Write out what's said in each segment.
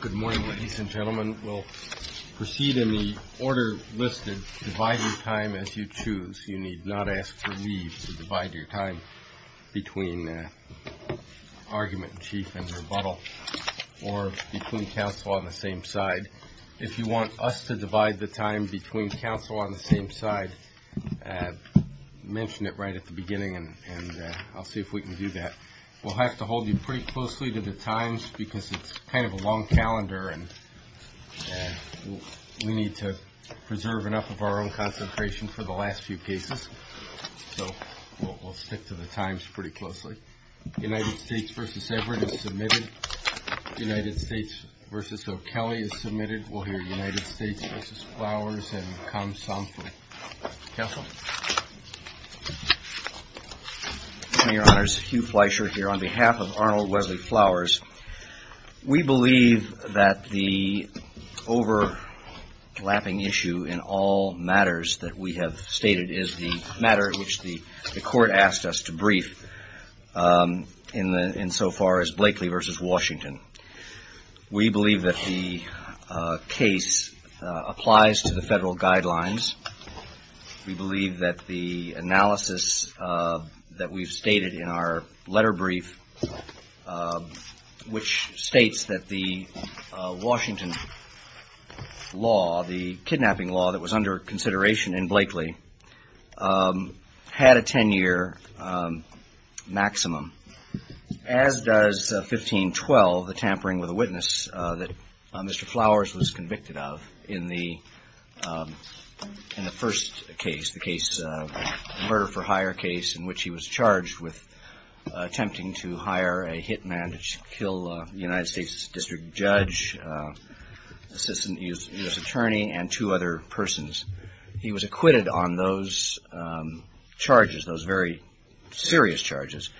Good morning, ladies and gentlemen. We'll proceed in the order listed. Divide your time as you choose. You need not ask for leave to divide your time between argument in chief and rebuttal or between counsel on the same side. If you want us to divide the time between counsel on the same side, mention it right at the beginning and I'll see if we can do that. We'll have to hold you pretty closely to the times because it's kind of a long calendar and we need to preserve enough of our own concentration for the last few cases. So we'll stick to the times pretty closely. United States v. Everett is submitted. United States v. O'Kelley is submitted. We'll hear United States v. FLOWERS and Kam Sompra. Counsel? HEW FLEISHER Your honor, it's Hew Fleisher here on behalf of Arnold Wesley Flowers. We believe that the overlapping issue in all matters that we have stated is the matter which the court asked us to brief in so far as Blakely v. Washington. We believe that the case applies to the Federal guidelines. We believe that the case applies to the Federal guidelines. We believe that the analysis that we've stated in our letter brief, which states that the Washington law, the kidnapping law that was under consideration in Blakely, had a ten-year maximum as does 1512, the tampering with a witness that Mr. case, the murder for hire case in which he was charged with attempting to hire a hit man to kill a United States district judge, assistant U.S. attorney, and two other persons. He was acquitted on those charges, those very serious charges,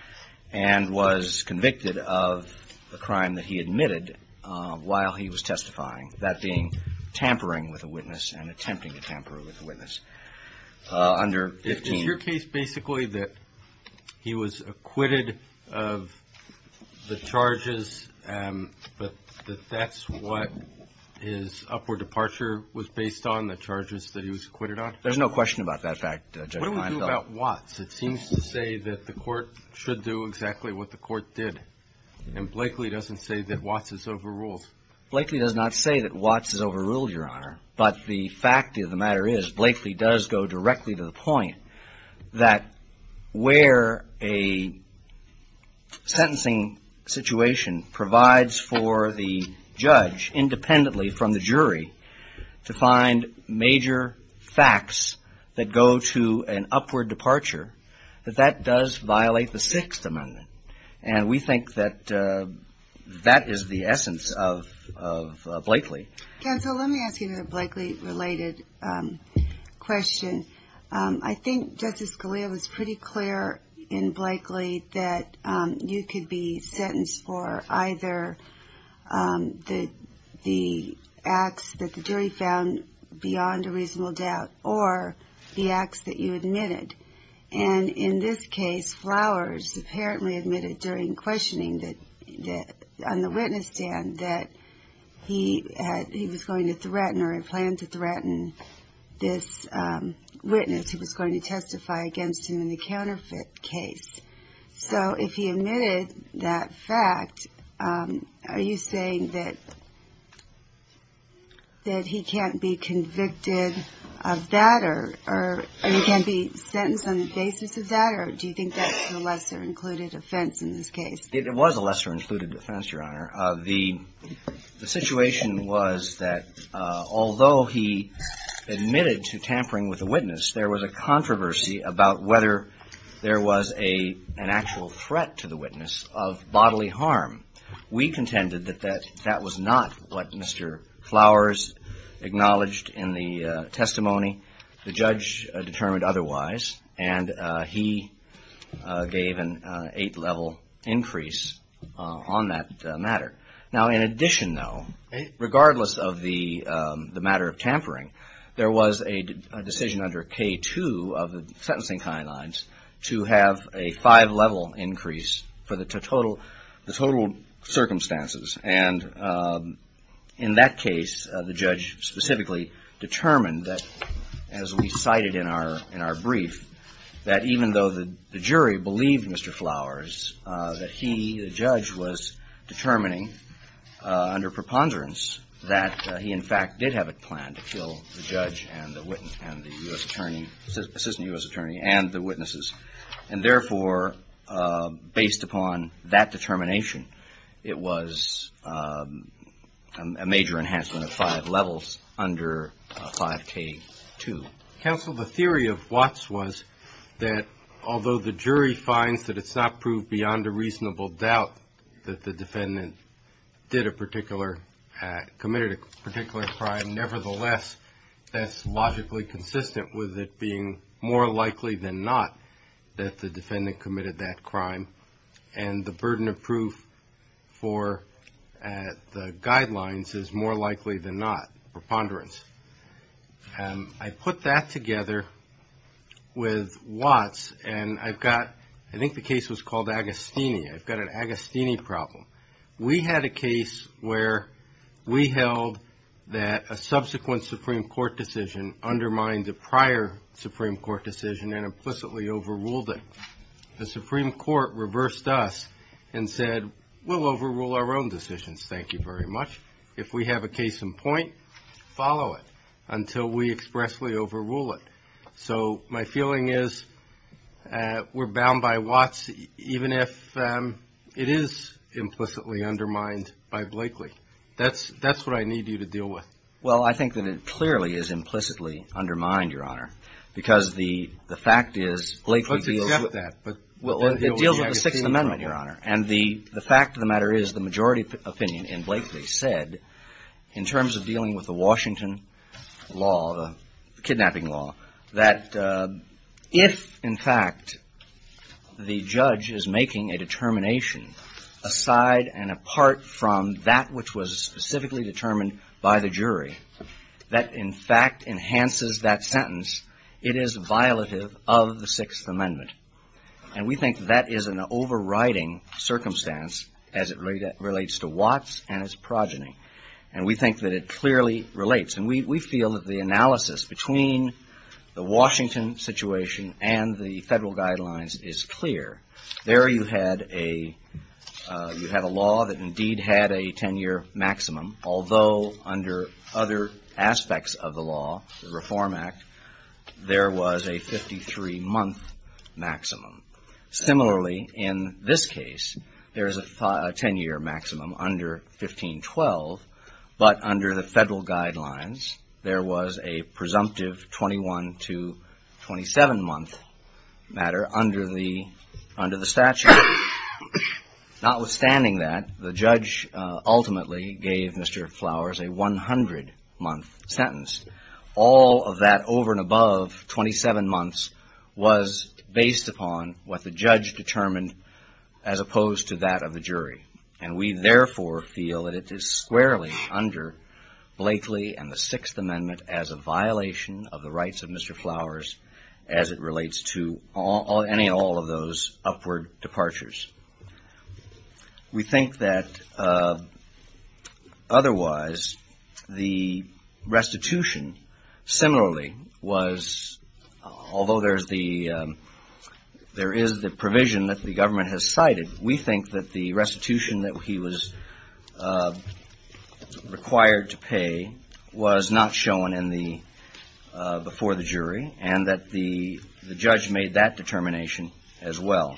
and was convicted of the crime that he admitted while he was testifying, that being tampering with a witness and attempting to tamper with a witness. Under 15. Is your case basically that he was acquitted of the charges, but that that's what his upward departure was based on, the charges that he was acquitted on? There's no question about that fact. What do we do about Watts? It seems to say that the court should do exactly what the court did, and Blakely doesn't say that Watts is overruled. Blakely does not say that Watts is overruled, your question is correct, but Blakely does go directly to the point that where a sentencing situation provides for the judge, independently from the jury, to find major facts that go to an upward departure, that that does violate the Sixth Amendment, and we think that that is the essence of the question. I think Justice Scalia was pretty clear in Blakely that you could be sentenced for either the acts that the jury found beyond a reasonable doubt, or the acts that you admitted. And in this case, Flowers apparently admitted during questioning on the witness stand that he was going to threaten, or had planned to threaten, this witness who was going to testify against him in the counterfeit case. So if he admitted that fact, are you saying that he can't be convicted of that, or he can't be sentenced on the basis of that, or do you think that's a lesser-included offense in this case? It was a lesser-included offense, Your Honor. The situation was that he was going to testify against him in the counterfeit case, and that although he admitted to tampering with the witness, there was a controversy about whether there was an actual threat to the witness of bodily harm. We contended that that was not what Mr. Flowers acknowledged in the testimony. The judge determined otherwise, and he gave an eight-level increase on that matter. Now, in addition, though, regardless of the matter of tampering, there was a decision under K-2 of the sentencing timelines to have a five-level increase for the total circumstances. And in that case, the judge specifically determined that, as we cited in our testimony, that he, the judge, was determining under preponderance that he, in fact, did have a plan to kill the judge and the witness and the U.S. attorney, assistant U.S. attorney, and the witnesses. And therefore, based upon that determination, it was a major enhancement of five levels under 5K-2. Counsel, the theory of Watts was that although the jury finds that it's not proved beyond a reasonable doubt that the defendant did a particular, committed a particular crime, nevertheless, that's logically consistent with it being more likely than not that the defendant committed that crime. And the burden of proof for the guidelines is more likely than not, preponderance. I put that together with Watts, and I've got, I think the case was called Agostini. I've got an Agostini problem. We had a case where we held that a subsequent Supreme Court decision undermined the prior Supreme Court decision and implicitly overruled it. The Supreme Court reversed us and said, we'll overrule our own decisions. Thank you very much. If we have a case in point, follow it. Until we expressly overrule it. So my feeling is we're bound by Watts, even if it is implicitly undermined by Blakely. That's what I need you to deal with. Well, I think that it clearly is implicitly undermined, Your Honor, because the fact is Blakely deals with the Sixth Amendment, Your Honor. And the fact of the matter is the majority opinion in Blakely said, in terms of dealing with the Washington case, that the Supreme Court has a law, a kidnapping law, that if, in fact, the judge is making a determination aside and apart from that which was specifically determined by the jury, that, in fact, enhances that sentence, it is violative of the Sixth Amendment. And we think that is an overriding circumstance as it relates to Watts and his progeny. And we think that it clearly relates. And we feel that the analysis between the Washington situation and the federal guidelines is clear. There you had a law that indeed had a 10-year maximum, although under other aspects of the law, the Reform Act, there was a 53-month maximum. Similarly, in this case, there is a 10-year maximum under 1512, but under the federal guidelines, there is a 53-month maximum. And in the case of the Washington case, there was a presumptive 21 to 27-month matter under the statute. Notwithstanding that, the judge ultimately gave Mr. Flowers a 100-month sentence. All of that over and above 27 months was based upon what the judge determined as opposed to that of the jury. And we, therefore, feel that it is squarely under Blakely and the Sixth Amendment as a violation of the rights of Mr. Flowers as it relates to any and all of those upward departures. We think that otherwise, the restitution similarly was, although there is the provision that the government has cited, we think that the restitution that he was required to pay was not shown before the jury and that the judge made that determination as well.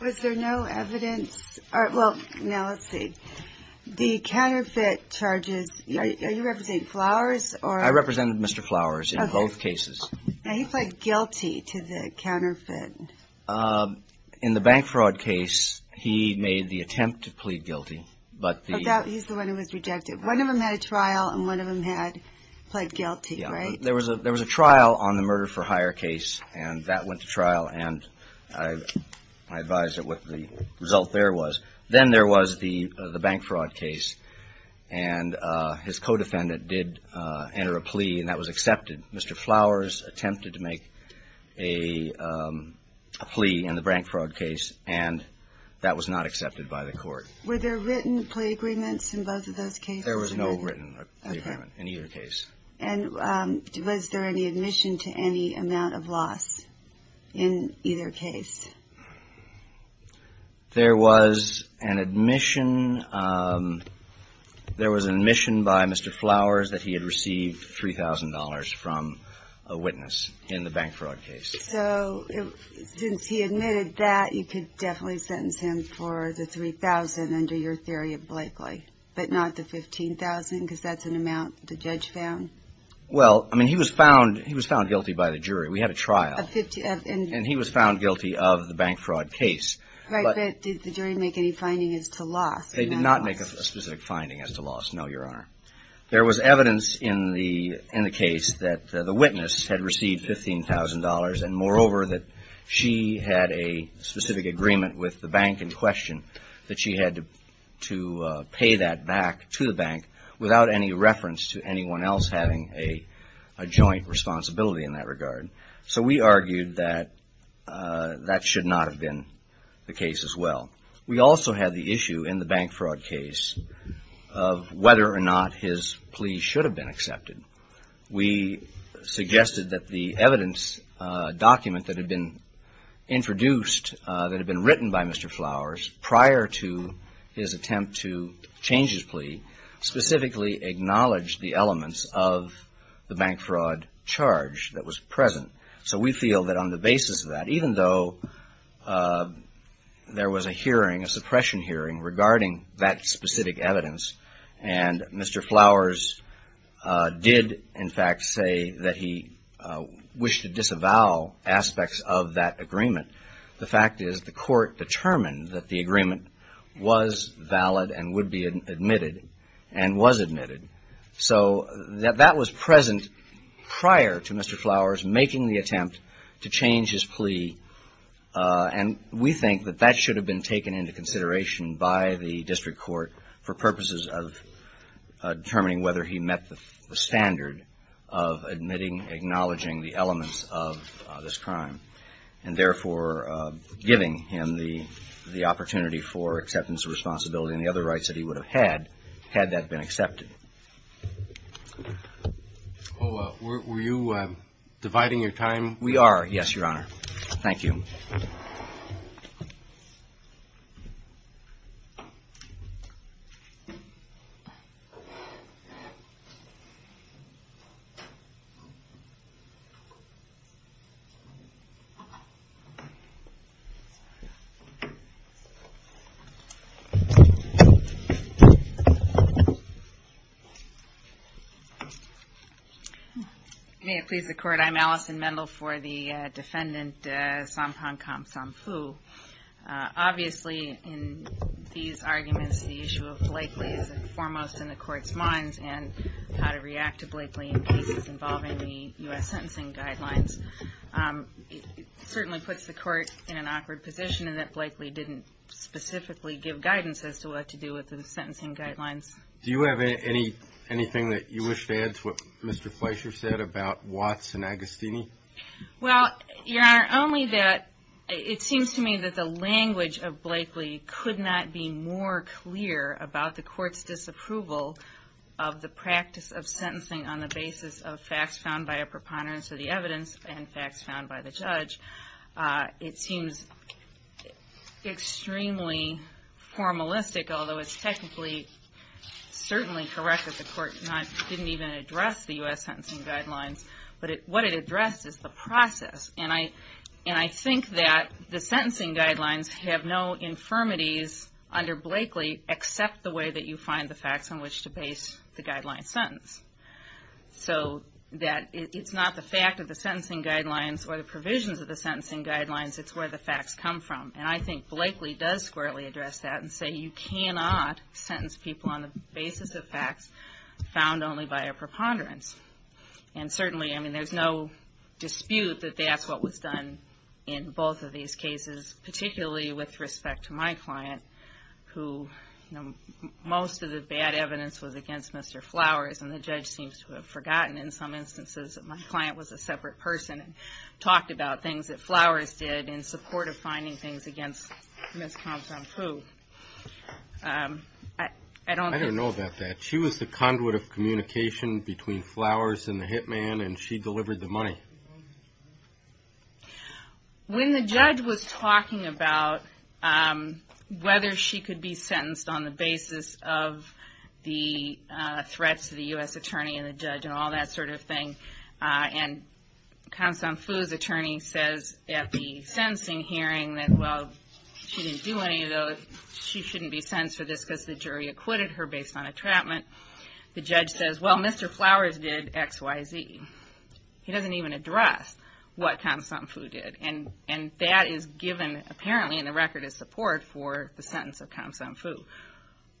Was there no evidence, well, now let's see, the counterfeit charges, are you representing Flowers or? I represented Mr. Flowers in both cases. Now, he pled guilty to the counterfeit. In the bank fraud case, he made the attempt to plead guilty. He's the one who was rejected. One of them had a trial and one of them had pled guilty, right? There was a trial on the murder for hire case, and that went to trial, and I advise that what the result there was. Then there was the bank fraud case, and his co-defendant did enter a plea, and that was accepted. Mr. Flowers attempted to make a plea in the bank fraud case, and that was not accepted by the court. Were there written plea agreements in both of those cases? There was no written agreement in either case. And was there any admission to any amount of loss in either case? There was an admission by Mr. Flowers that he had received $3,000 from a witness in the bank fraud case. So, since he admitted that, you could definitely sentence him for the $3,000 under your theory of Blakely, but not the $15,000, because that's an amount the judge found? Well, I mean, he was found guilty by the jury. We had a trial, and he was found guilty of the $15,000. Right, but did the jury make any finding as to loss? They did not make a specific finding as to loss, no, Your Honor. There was evidence in the case that the witness had received $15,000, and moreover, that she had a specific agreement with the bank in question that she had to pay that back to the bank without any reference to anyone else having a joint responsibility in that regard. So, we argued that that should not have been the case as well. We also had the issue in the bank fraud case of whether or not his plea should have been accepted. We suggested that the evidence document that had been introduced, that had been written by Mr. Flowers prior to his attempt to change his plea, specifically acknowledged the elements of the bank fraud charge that was present. So, we feel that on the basis of that, even though there was a hearing, a suppression hearing, regarding that specific evidence, and Mr. Flowers did, in fact, say that he wished to disavow aspects of that agreement, the fact is the court determined that the agreement was valid and would be admitted and was admitted. So, that was present prior to Mr. Flowers making the attempt to change his plea, and we think that that should have been taken into consideration by the district court for purposes of determining whether he met the standard of admitting, acknowledging the elements of this crime, and therefore, giving him the opportunity for acceptance of responsibility and the other rights that he would have had, had that been accepted. Were you dividing your time? We are, yes, Your Honor. Thank you. May it please the Court, I'm Allison Mendel for the defendant, Sompong Khamsomphu. Obviously, in these arguments, the issue of Blakely is foremost in the Court's minds, and how to react to Blakely in cases involving the U.S. sentencing guidelines. It certainly puts the Court in an awkward position in that Blakely didn't specifically give guidance as to what to do with the sentencing guidelines. Do you have anything that you wish to add to what Mr. Fleischer said about Watts and Agostini? Well, Your Honor, only that it seems to me that the language of Blakely could not be more clear about the Court's disapproval of the practice of sentencing on the basis of facts found by a preponderance of the evidence and facts found by the judge. It seems extremely formalistic, although it's technically, I don't think it's a formalistic approach. It's certainly correct that the Court didn't even address the U.S. sentencing guidelines, but what it addressed is the process. And I think that the sentencing guidelines have no infirmities under Blakely, except the way that you find the facts on which to base the guideline sentence. So that it's not the fact of the sentencing guidelines or the provisions of the sentencing guidelines, it's where the facts come from. And I think Blakely does squarely address that and say you cannot sentence people on the basis of facts found only by a preponderance. And certainly, I mean, there's no dispute that that's what was done in both of these cases, particularly with respect to my client, who, you know, most of the bad evidence was against Mr. Flowers, and the judge seems to have forgotten in some instances that my client was a separate person and talked about things that Flowers did in support of finding things against him. And I don't know about that. She was the conduit of communication between Flowers and the hitman, and she delivered the money. When the judge was talking about whether she could be sentenced on the basis of the threats to the U.S. attorney and the judge, and all that sort of thing. And Kham San Phu's attorney says at the sentencing hearing that, well, she didn't do any of those, she shouldn't be sentenced for this because the jury acquitted her based on a trapment. The judge says, well, Mr. Flowers did X, Y, Z. He doesn't even address what Kham San Phu did, and that is given apparently in the record as support for the sentence of Kham San Phu.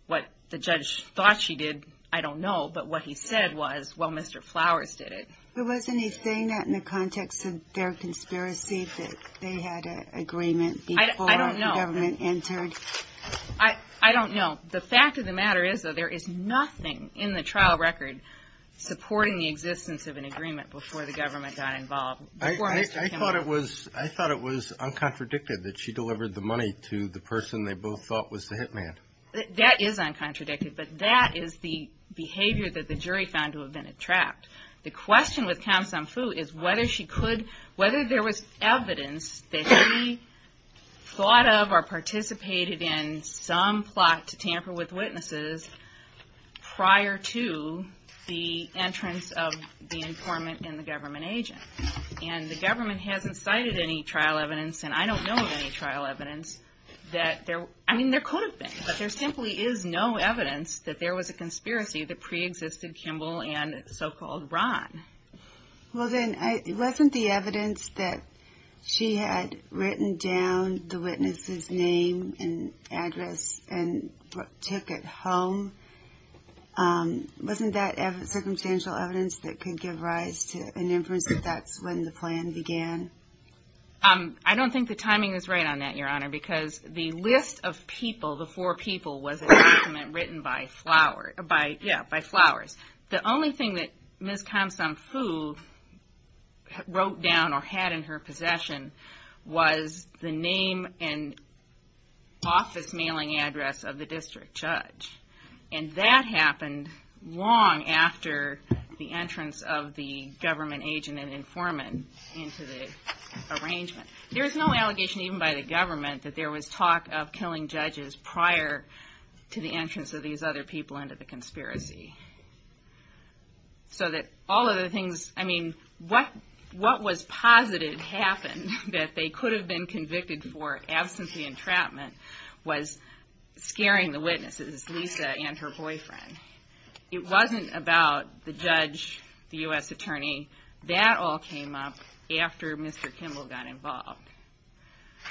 What the judge thought she did, I don't know, but what he said was, well, Mr. Flowers did it. There was anything in the context of their conspiracy that they had an agreement before the government entered? I don't know. The fact of the matter is that there is nothing in the trial record supporting the existence of an agreement before the government got involved, before Mr. Kham San Phu. I thought it was uncontradicted that she delivered the money to the person they both thought was the hitman. That is uncontradicted, but that is the behavior that the jury found to have been a trap. The question with Kham San Phu is whether there was evidence that she thought of or participated in some plot to tamper with witnesses prior to the entrance of the informant and the government agent. The government hasn't cited any trial evidence, and I don't know of any trial evidence. There could have been, but there simply is no evidence that there was a conspiracy that preexisted Kimball and so-called Ron. Well, then, wasn't the evidence that she had written down the witness's name and address and took it home, wasn't that circumstantial evidence that could give rise to an inference that that's when the plan began? I don't think the timing is right on that, Your Honor, because the list of people, the four people, was a document written by Flowers. The only thing that Ms. Kham San Phu wrote down or had in her possession was the name and office mailing address of the district judge. And that happened long after the entrance of the government agent and informant into the arrangement. There's no allegation even by the government that there was talk of killing judges prior to the entrance of these other people into the conspiracy. So that all of the things, I mean, what was posited happened that they could have been convicted for absentee entrapment was scaring the witnesses, Lisa and her boyfriend. It wasn't about the judge, the U.S. attorney, that all came up after Mr. Kimball got involved.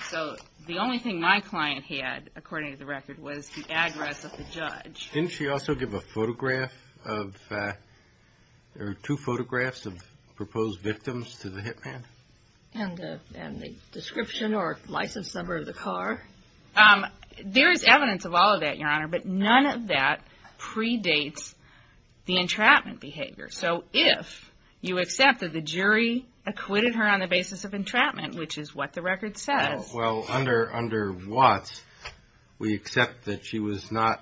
So the only thing my client had, according to the record, was the address of the judge. Didn't she also give a photograph of, or two photographs of proposed victims to the hit man? And the description or license number of the car? There is evidence of all of that, Your Honor, but none of that predates the entrapment behavior. So if you accept that the jury acquitted her on the basis of entrapment, which is what the record says... Well, under Watts, we accept that she was not,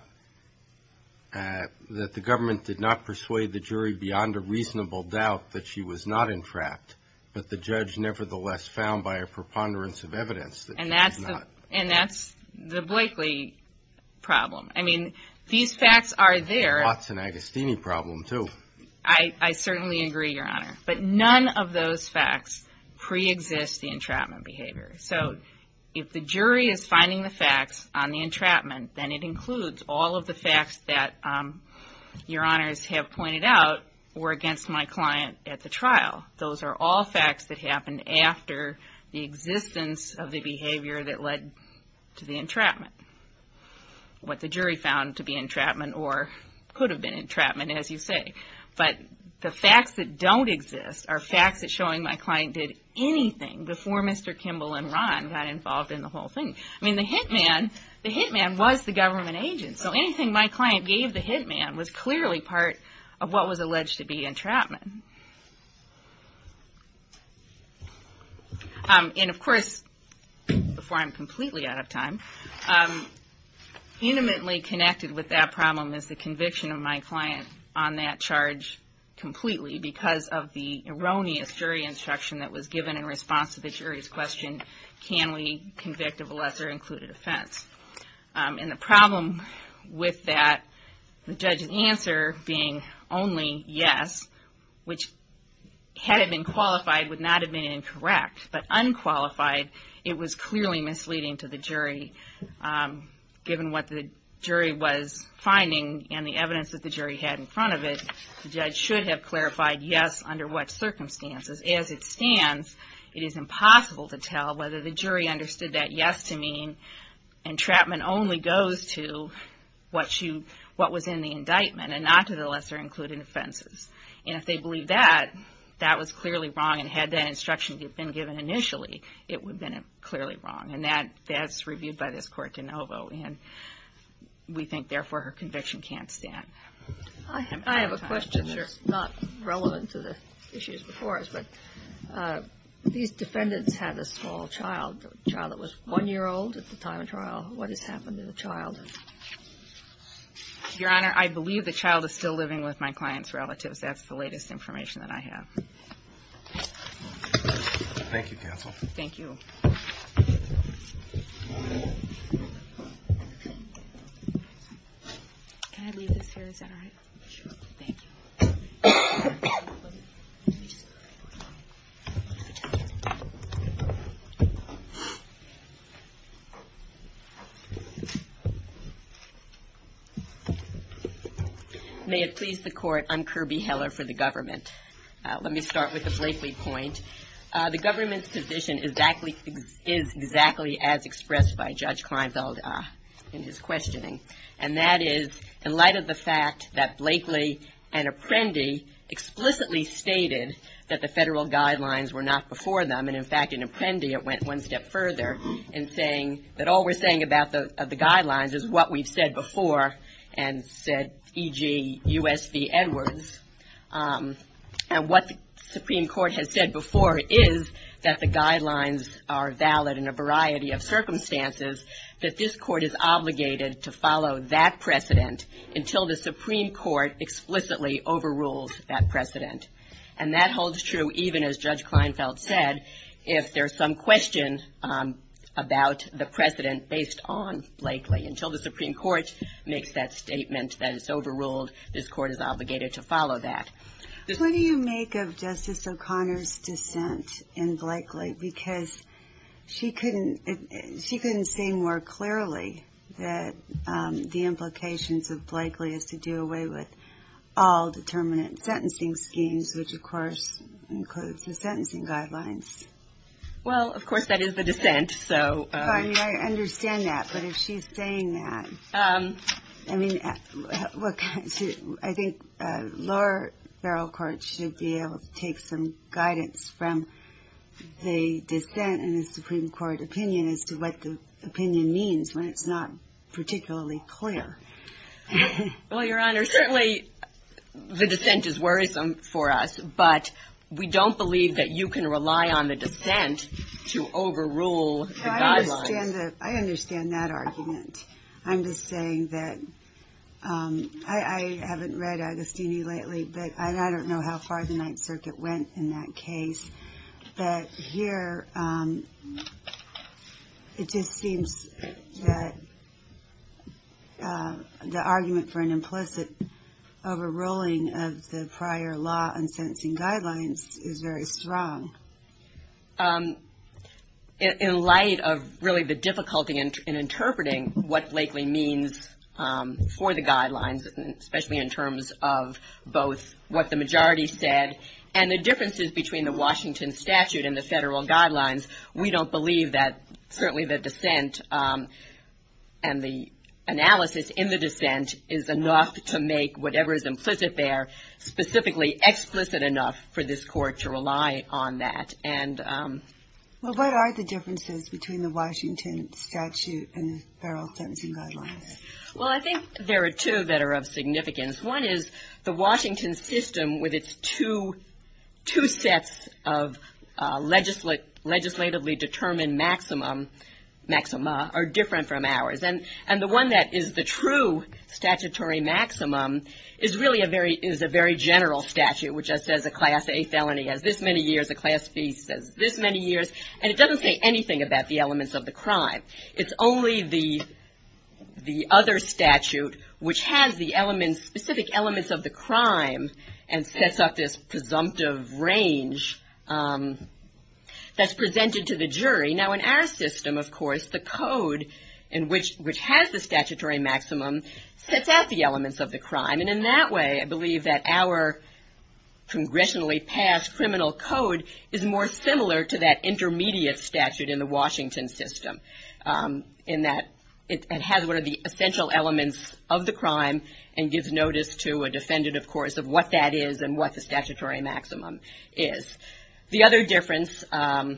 that the government did not persuade the jury beyond a reasonable doubt that she was not entrapped, but the judge nevertheless found by a preponderance of evidence that she was not. And that's the Blakely problem. I mean, these facts are there. It's a Watson-Agostini problem, too. I certainly agree, Your Honor, but none of those facts preexist the entrapment behavior. So if the jury is finding the facts on the entrapment, then it includes all of the facts that Your Honors have pointed out were against my client at the trial. Those are all facts that happened after the existence of the behavior that led to the entrapment. What the jury found to be entrapment, or could have been entrapment, as you say. But the facts that don't exist are facts that show my client did anything before Mr. Kimball and Ron got involved in the whole thing. I mean, the hitman was the government agent, so anything my client gave the hitman was clearly part of what was alleged to be entrapment. And of course, before I'm completely out of time, intimately connected with that problem is the conviction of my client on that charge completely, because of the erroneous jury instruction that was given in response to the jury's question, can we convict of a lesser-included offense? And the problem with that, the judge's answer being only yes, which had it been qualified, would not have been incorrect. But unqualified, it was clearly misleading to the jury, given what the jury was finding and the evidence that the jury had in front of it. The judge should have clarified yes under what circumstances. As it stands, it is impossible to tell whether the jury understood that yes to mean entrapment only goes to what was in the indictment and not to the lesser-included offenses. And if they believe that, that was clearly wrong, and had that instruction been given initially, it would have been clearly wrong. And that's reviewed by this court de novo, and we think therefore her conviction can't stand. I have a question that's not relevant to the issues before us, but these defendants had a small child, a child that was one-year-old at the time of trial, what has happened to the child? Your Honor, I believe the child is still living with my client's relatives. That's the latest information that I have. Thank you, counsel. Is that all right? May it please the Court, I'm Kirby Heller for the government. Let me start with the Blakely point. The government's position is exactly as expressed by Judge Kleinfeld in his questioning. And that is, in light of the fact that Blakely and Apprendi explicitly stated that the federal guidelines were not before them, and in fact, in Apprendi, it went one step further in saying that all we're saying about the guidelines is what we've said before, and said, e.g., U.S. v. Edwards. And what the Supreme Court has said before is that the guidelines are valid in a variety of circumstances, that this court is obligated to follow them. And that holds true even as Judge Kleinfeld said, if there's some question about the precedent based on Blakely. Until the Supreme Court makes that statement that it's overruled, this court is obligated to follow that. What do you make of Justice O'Connor's dissent in Blakely? Because she couldn't say more clearly that the implications of Blakely is to do away with all determinate sentencing schemes, which, of course, includes the sentencing guidelines. Well, of course, that is the dissent, so. I mean, I understand that, but if she's saying that, I mean, I think lower barrel courts should be able to take some guidance from the Supreme Court. But I don't know how far the Ninth Circuit went in that case. But here, it just seems that the argument for an implicit overruling of the prior law on sentencing guidelines is very strong. In light of really the difficulty in interpreting what Blakely means for the guidelines, especially in terms of both what the majority said and the differences between the Washington statute and the federal guidelines, we don't believe that certainly the dissent and the analysis in the dissent is enough to make whatever is implicit there specifically explicit enough for this court to rely on that. Well, what are the differences between the Washington statute and the federal sentencing guidelines? Well, I think there are two that are of significance. Two sets of legislatively determined maxima are different from ours. And the one that is the true statutory maximum is really a very general statute, which says a Class A felony has this many years, a Class B says this many years. And it doesn't say anything about the elements of the crime. It's only the other statute, which has the specific elements of the crime, and sets up this presumption. It's a presumptive range that's presented to the jury. Now, in our system, of course, the code, which has the statutory maximum, sets out the elements of the crime. And in that way, I believe that our congressionally passed criminal code is more similar to that intermediate statute in the Washington system, in that it has one of the essential elements of the crime and gives notice to a defendant, of course, of what that is and what the statutory maximum is. The other difference, of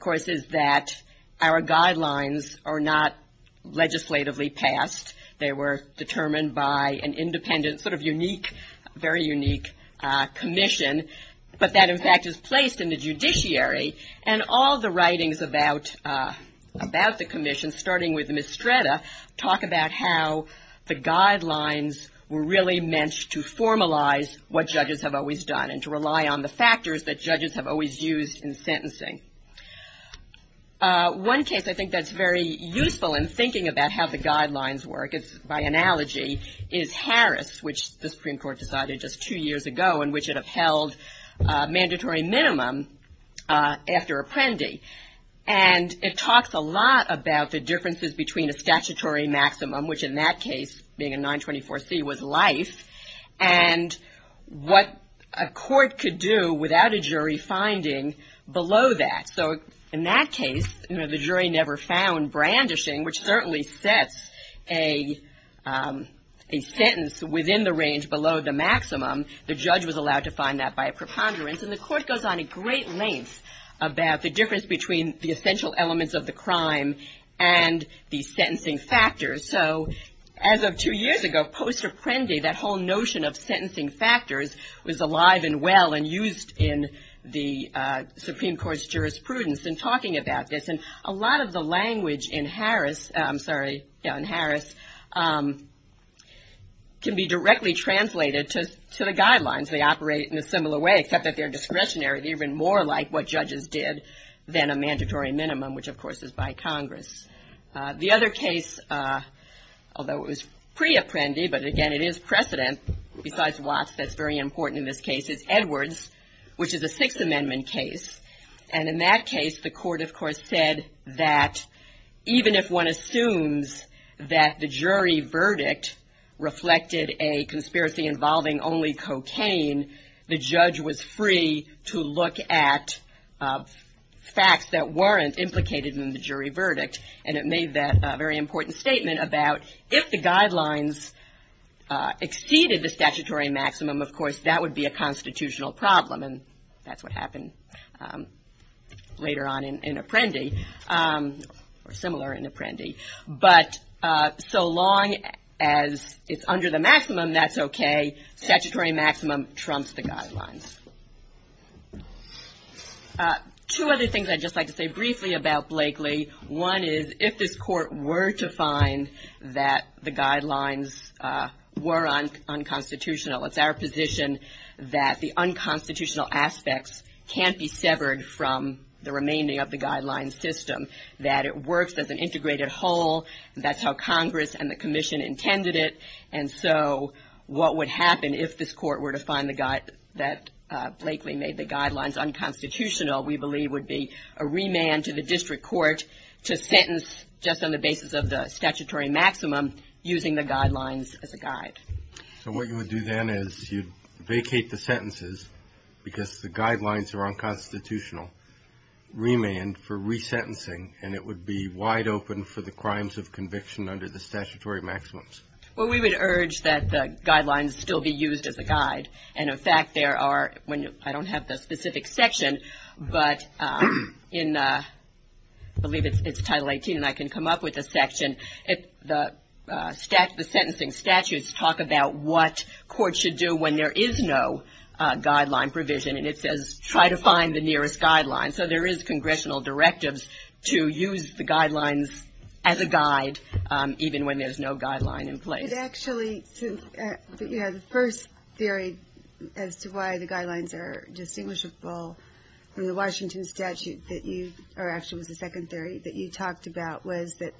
course, is that our guidelines are not legislatively passed. They were determined by an independent, sort of unique, very unique commission, but that, in fact, is placed in the judiciary. And all the writings about the commission, starting with Mistretta, talk about how the guidelines were really meant to formalize what judges have always done. And to rely on the factors that judges have always used in sentencing. One case I think that's very useful in thinking about how the guidelines work, by analogy, is Harris, which the Supreme Court decided just two years ago, in which it upheld mandatory minimum after apprendee. And it talks a lot about the differences between a statutory maximum, which in that case, being a 924C, was life, and what a court could do without a jury finding below that. So, in that case, you know, the jury never found brandishing, which certainly sets a sentence within the range below the maximum. The judge was allowed to find that by a preponderance. And the court goes on a great length about the difference between the essential elements of the crime and the sentencing factors. So, as of two years ago, post-apprendee, that whole notion of sentencing factors, was alive and well and used in the Supreme Court's jurisprudence in talking about this. And a lot of the language in Harris, I'm sorry, in Harris, can be directly translated to the guidelines. They operate in a similar way, except that they're discretionary. They operate even more like what judges did than a mandatory minimum, which, of course, is by Congress. The other case, although it was pre-apprendee, but again, it is precedent, besides Watts, that's very important in this case, is Edwards, which is a Sixth Amendment case. And in that case, the court, of course, said that even if one assumes that the jury verdict reflected a conspiracy involving only cocaine, the judge was free to look at facts that weren't implicated in the jury verdict. And it made that very important statement about if the guidelines exceeded the statutory maximum, of course, that would be a constitutional problem. And that's what happened later on in apprendee, or similar in apprendee. But so long as it's under the maximum, that's okay. That's what trumps the guidelines. Two other things I'd just like to say briefly about Blakely. One is, if this court were to find that the guidelines were unconstitutional, it's our position that the unconstitutional aspects can't be severed from the remaining of the guidelines system. That it works as an integrated whole, that's how Congress and the Commission intended it, and so what would happen if this court were to find that Blakely made the guidelines unconstitutional, we believe would be a remand to the district court to sentence just on the basis of the statutory maximum, using the guidelines as a guide. So what you would do then is you'd vacate the sentences, because the guidelines are unconstitutional, remand for resentencing, and it would be wide open for the crimes of conviction under the statutory maximums. Well, we would urge that the guidelines still be used as a guide, and in fact there are, I don't have the specific section, but in, I believe it's Title 18, and I can come up with a section, the sentencing statutes talk about what courts should do when there is no guideline provision, and it says try to find the nearest guideline. So there is congressional directives to use the guidelines as a guide, even when there's no guideline in place. It actually, the first theory as to why the guidelines are distinguishable from the Washington statute, or actually it was the second theory that you talked about, was the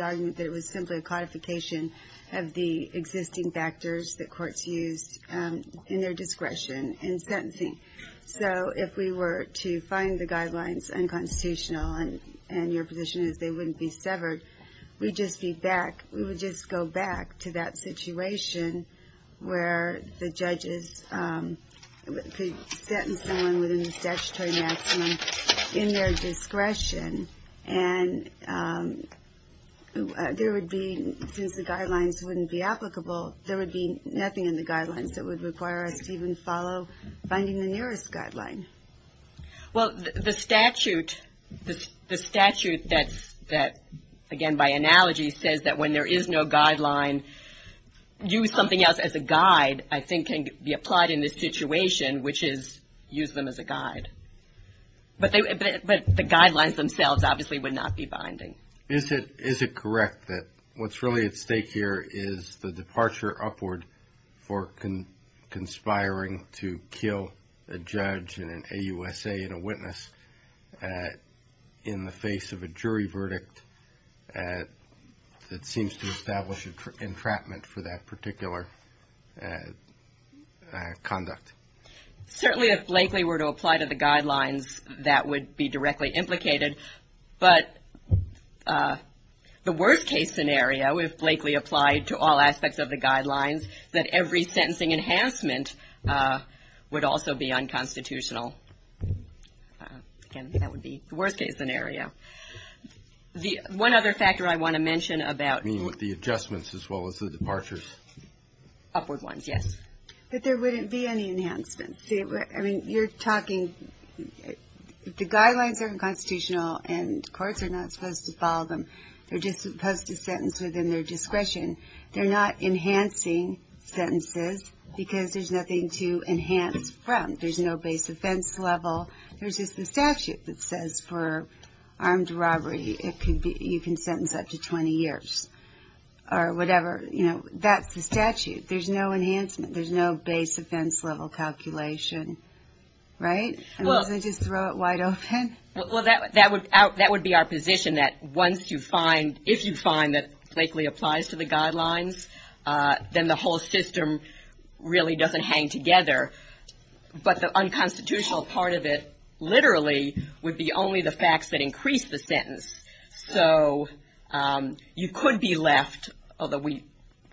argument that it was simply a codification of the existing factors that courts use in their discretion in sentencing. So if we were to find the guidelines unconstitutional, and your position is they wouldn't be severed, we'd just be back, we would just go back to that situation where the judges could sentence someone within the statutory maximum in their discretion, and there would be, since the guidelines wouldn't be applicable, there would be nothing in the guidelines that would require us to even follow finding the nearest guideline. Well, the statute, the statute that, again by analogy, says that when there is no guideline, use something else as a guide, I think can be applied in this situation, which is use them as a guide. But the guidelines themselves obviously would not be binding. Is it correct that what's really at stake here is the departure upward for conspiring to kill a judge and an AUSA and a witness in the face of a jury verdict that seems to establish entrapment for that particular conduct? Certainly if Lakeley were to apply to the guidelines, that would be directly implicated, but the worst case scenario, if Lakeley applied to all aspects of the guidelines, that every sentencing enhancement would also be unconstitutional. Again, that would be the worst case scenario. One other factor I want to mention about the adjustments as well as the departures. Upward ones, yes. But there wouldn't be any enhancements. The guidelines are unconstitutional and courts are not supposed to follow them. They're just supposed to sentence within their discretion. They're not enhancing sentences because there's nothing to enhance from. There's no base offense level. There's just the statute that says for armed robbery, you can sentence up to 20 years or whatever. That's the statute. There's no base offense level calculation. Right? Well, that would be our position that once you find, if you find that Lakeley applies to the guidelines, then the whole system really doesn't hang together. But the unconstitutional part of it literally would be only the facts that increase the sentence. So you could be left, although we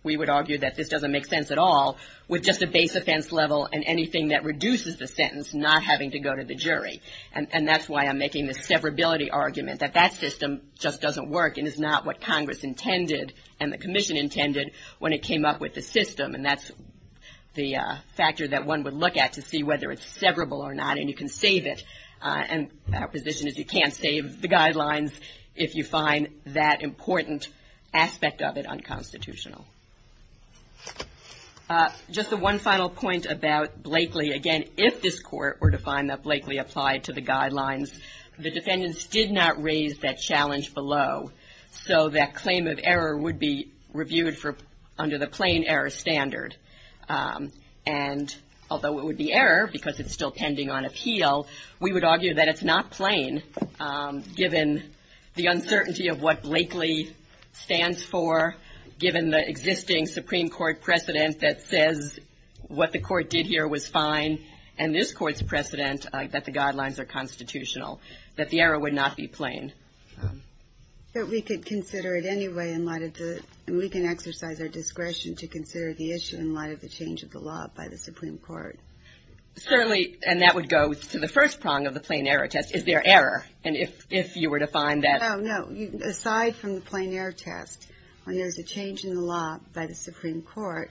would argue that this doesn't make sense at all, with just a base offense level and anything that reduces the sentence, not having to go to the jury. And that's why I'm making this severability argument, that that system just doesn't work and is not what Congress intended and the Commission intended when it came up with the system. And that's the factor that one would look at to see whether it's severable or not. And you can save it. And our position is you can't save the guidelines if you find that important aspect of it unconstitutional. Just the one final point about Blakeley, again, if this Court were to find that Blakeley applied to the guidelines, the defendants did not raise that challenge below. So that claim of error would be reviewed under the plain error standard. And although it would be error, because it's still pending on appeal, we would argue that it's not plain, given the uncertainty of what Blakeley stands for, given the existing Supreme Court precedent that says what the Court did here was fine, and this Court's precedent that the guidelines are constitutional, and we can exercise our discretion to consider the issue in light of the change of the law by the Supreme Court. Certainly, and that would go to the first prong of the plain error test, is there error, and if you were to find that. No, no, aside from the plain error test, when there's a change in the law by the Supreme Court,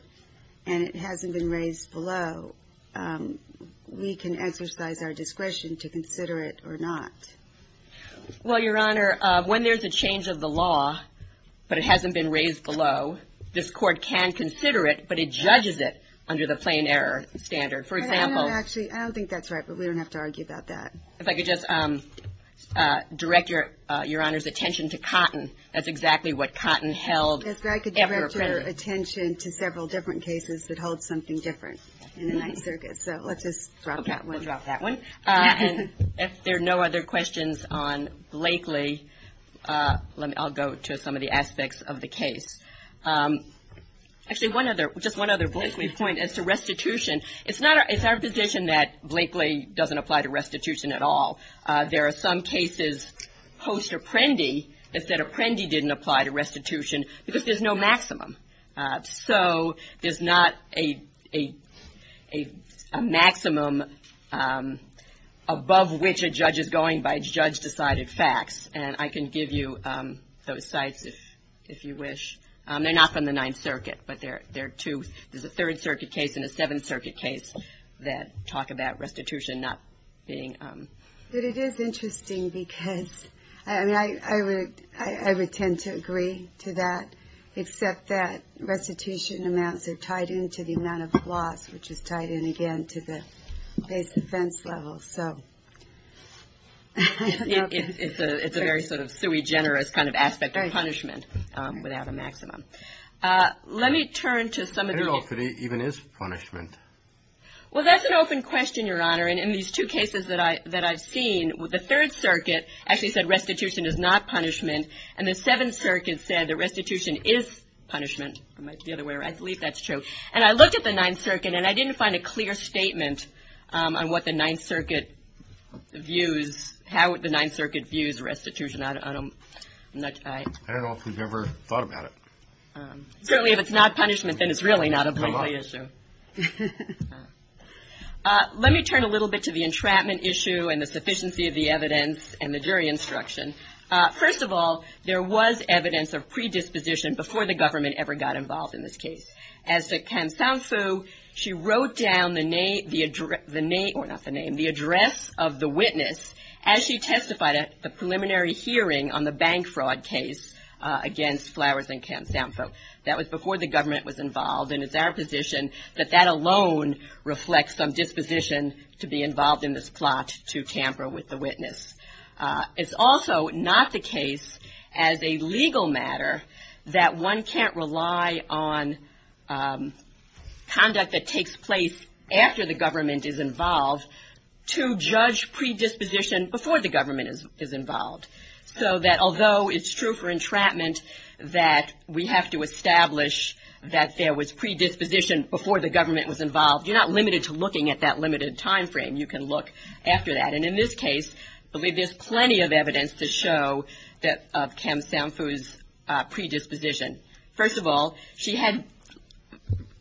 and it hasn't been raised below, we can exercise our discretion to consider it or not. Well, Your Honor, when there's a change of the law, but it hasn't been raised below, this Court can consider it, but it judges it under the plain error standard. I don't think that's right, but we don't have to argue about that. If I could just direct Your Honor's attention to cotton, that's exactly what cotton held. If I could direct your attention to several different cases that hold something different in the Ninth Circuit. So let's just drop that one. If there are no other questions on Blakely, I'll go to some of the aspects of the case. Actually, just one other Blakely point as to restitution. It's our position that Blakely doesn't apply to restitution at all. There are some cases post-Apprendi that said Apprendi didn't apply to restitution, because there's no maximum. So there's not a maximum above which a judge is going by judge-decided facts. And I can give you those sites if you wish. They're not from the Ninth Circuit, but there are two. There's a Third Circuit case and a Seventh Circuit case that talk about restitution not being... But it is interesting, because I would tend to agree to that, except that restitution amounts are tied into the amount of loss, which is tied in, again, to the base defense level. It's a very sort of sui generis kind of aspect of punishment without a maximum. Let me turn to some of the... The Third Circuit actually said restitution is not punishment, and the Seventh Circuit said that restitution is punishment. And I looked at the Ninth Circuit, and I didn't find a clear statement on what the Ninth Circuit views, how the Ninth Circuit views restitution. I don't know if we've ever thought about it. Certainly, if it's not punishment, then it's really not a big issue. Let me turn a little bit to the entrapment issue and the sufficiency of the evidence and the jury instruction. First of all, there was evidence of predisposition before the government ever got involved in this case. As to Kam Sanfu, she wrote down the name... Or not the name, the address of the witness as she testified at the preliminary hearing on the bank fraud case against Flowers and Kam Sanfu. That was before the government was involved, and it's our position that that alone reflects some disposition to be involved in this plot to tamper with the witness. It's also not the case, as a legal matter, that one can't rely on conduct that takes place after the government is involved to judge predisposition before the government is involved. So that although it's true for entrapment that we have to establish that there was predisposition before the government was involved, you're not limited to looking at that limited time frame. You can look after that. And in this case, I believe there's plenty of evidence to show of Kam Sanfu's predisposition. First of all, she had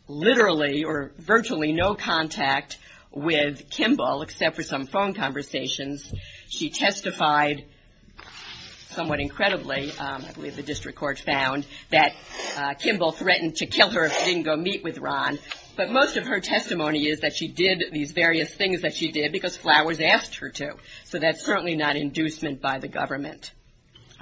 literally or virtually no contact with Kimball except for some phone conversations. She testified somewhat incredibly, I believe the district court found, that Kimball threatened to kill her if she didn't go meet with Ron. But most of her testimony is that she did these various things that she did because Flowers asked her to. So that's certainly not inducement by the government.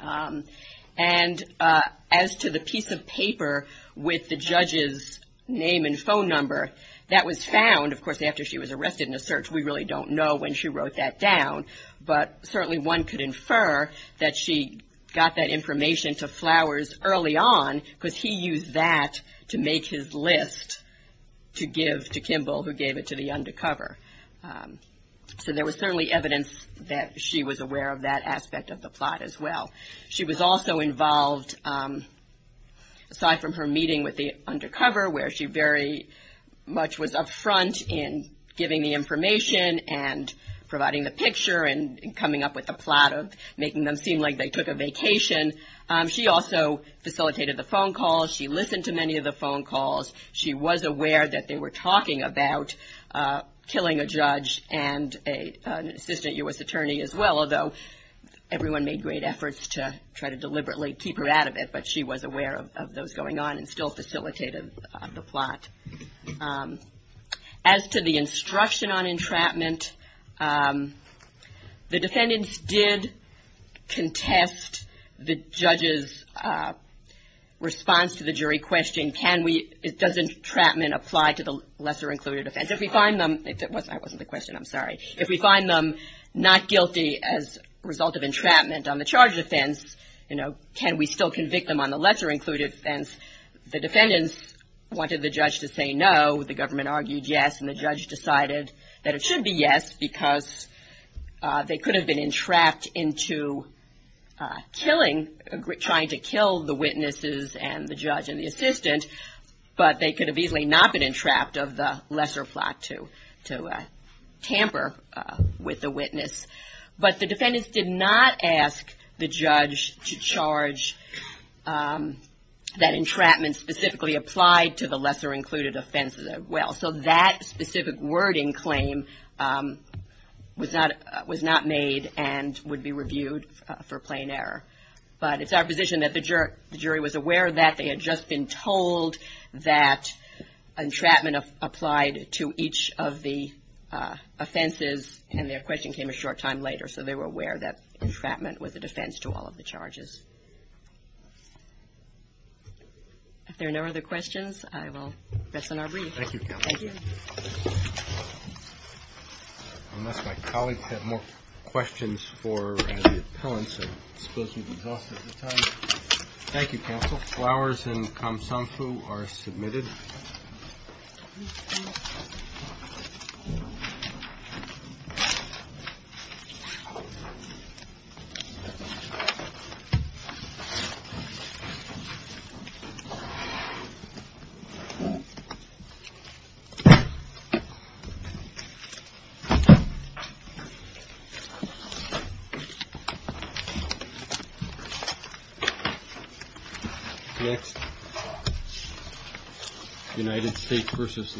And as to the piece of paper with the judge's name and phone number, that was found, of course, after she was arrested in a search. We really don't know when she wrote that down, but certainly one could infer that she got that information to Flowers early on because he used that to make his list to give to Kimball who gave it to the undercover. So there was certainly evidence that she was aware of that aspect of the plot as well. She was also involved, aside from her meeting with the undercover, where she very much was up front in giving the information and providing the picture and coming up with the plot of making them seem like they took a vacation. She also facilitated the phone calls. She listened to many of the phone calls. She was aware that they were talking about killing a judge and an assistant U.S. attorney as well, although everyone made great efforts to try to deliberately keep her out of it. But she was aware of those going on and still facilitated the plot. As to the instruction on entrapment, the defendants did contest the judge's response to the jury question, does entrapment apply to the lesser included offense? If we find them not guilty as a result of entrapment on the charge of offense, can we still convict them on the lesser included offense? The defendants wanted the judge to say no. The government argued yes, and the judge decided that it should be yes because they could have been entrapped into killing, trying to kill the witnesses and the judge and the assistant, but they could have easily not been entrapped of the lesser plot to tamper with the witness. But the defendants did not ask the judge to charge that entrapment specifically applied to the lesser included offense as well. So that specific wording claim was not made and would be reviewed for plain error. But it's our position that the jury was aware that they had just been told that entrapment applied to each of the offenses and their question came a short time later. So they were aware that entrapment was a defense to all of the charges. If there are no other questions, I will press on our brief. Thank you, Counsel. Unless my colleagues have more questions for the appellants, I suppose we've exhausted the time. Next, United States v. Lewis.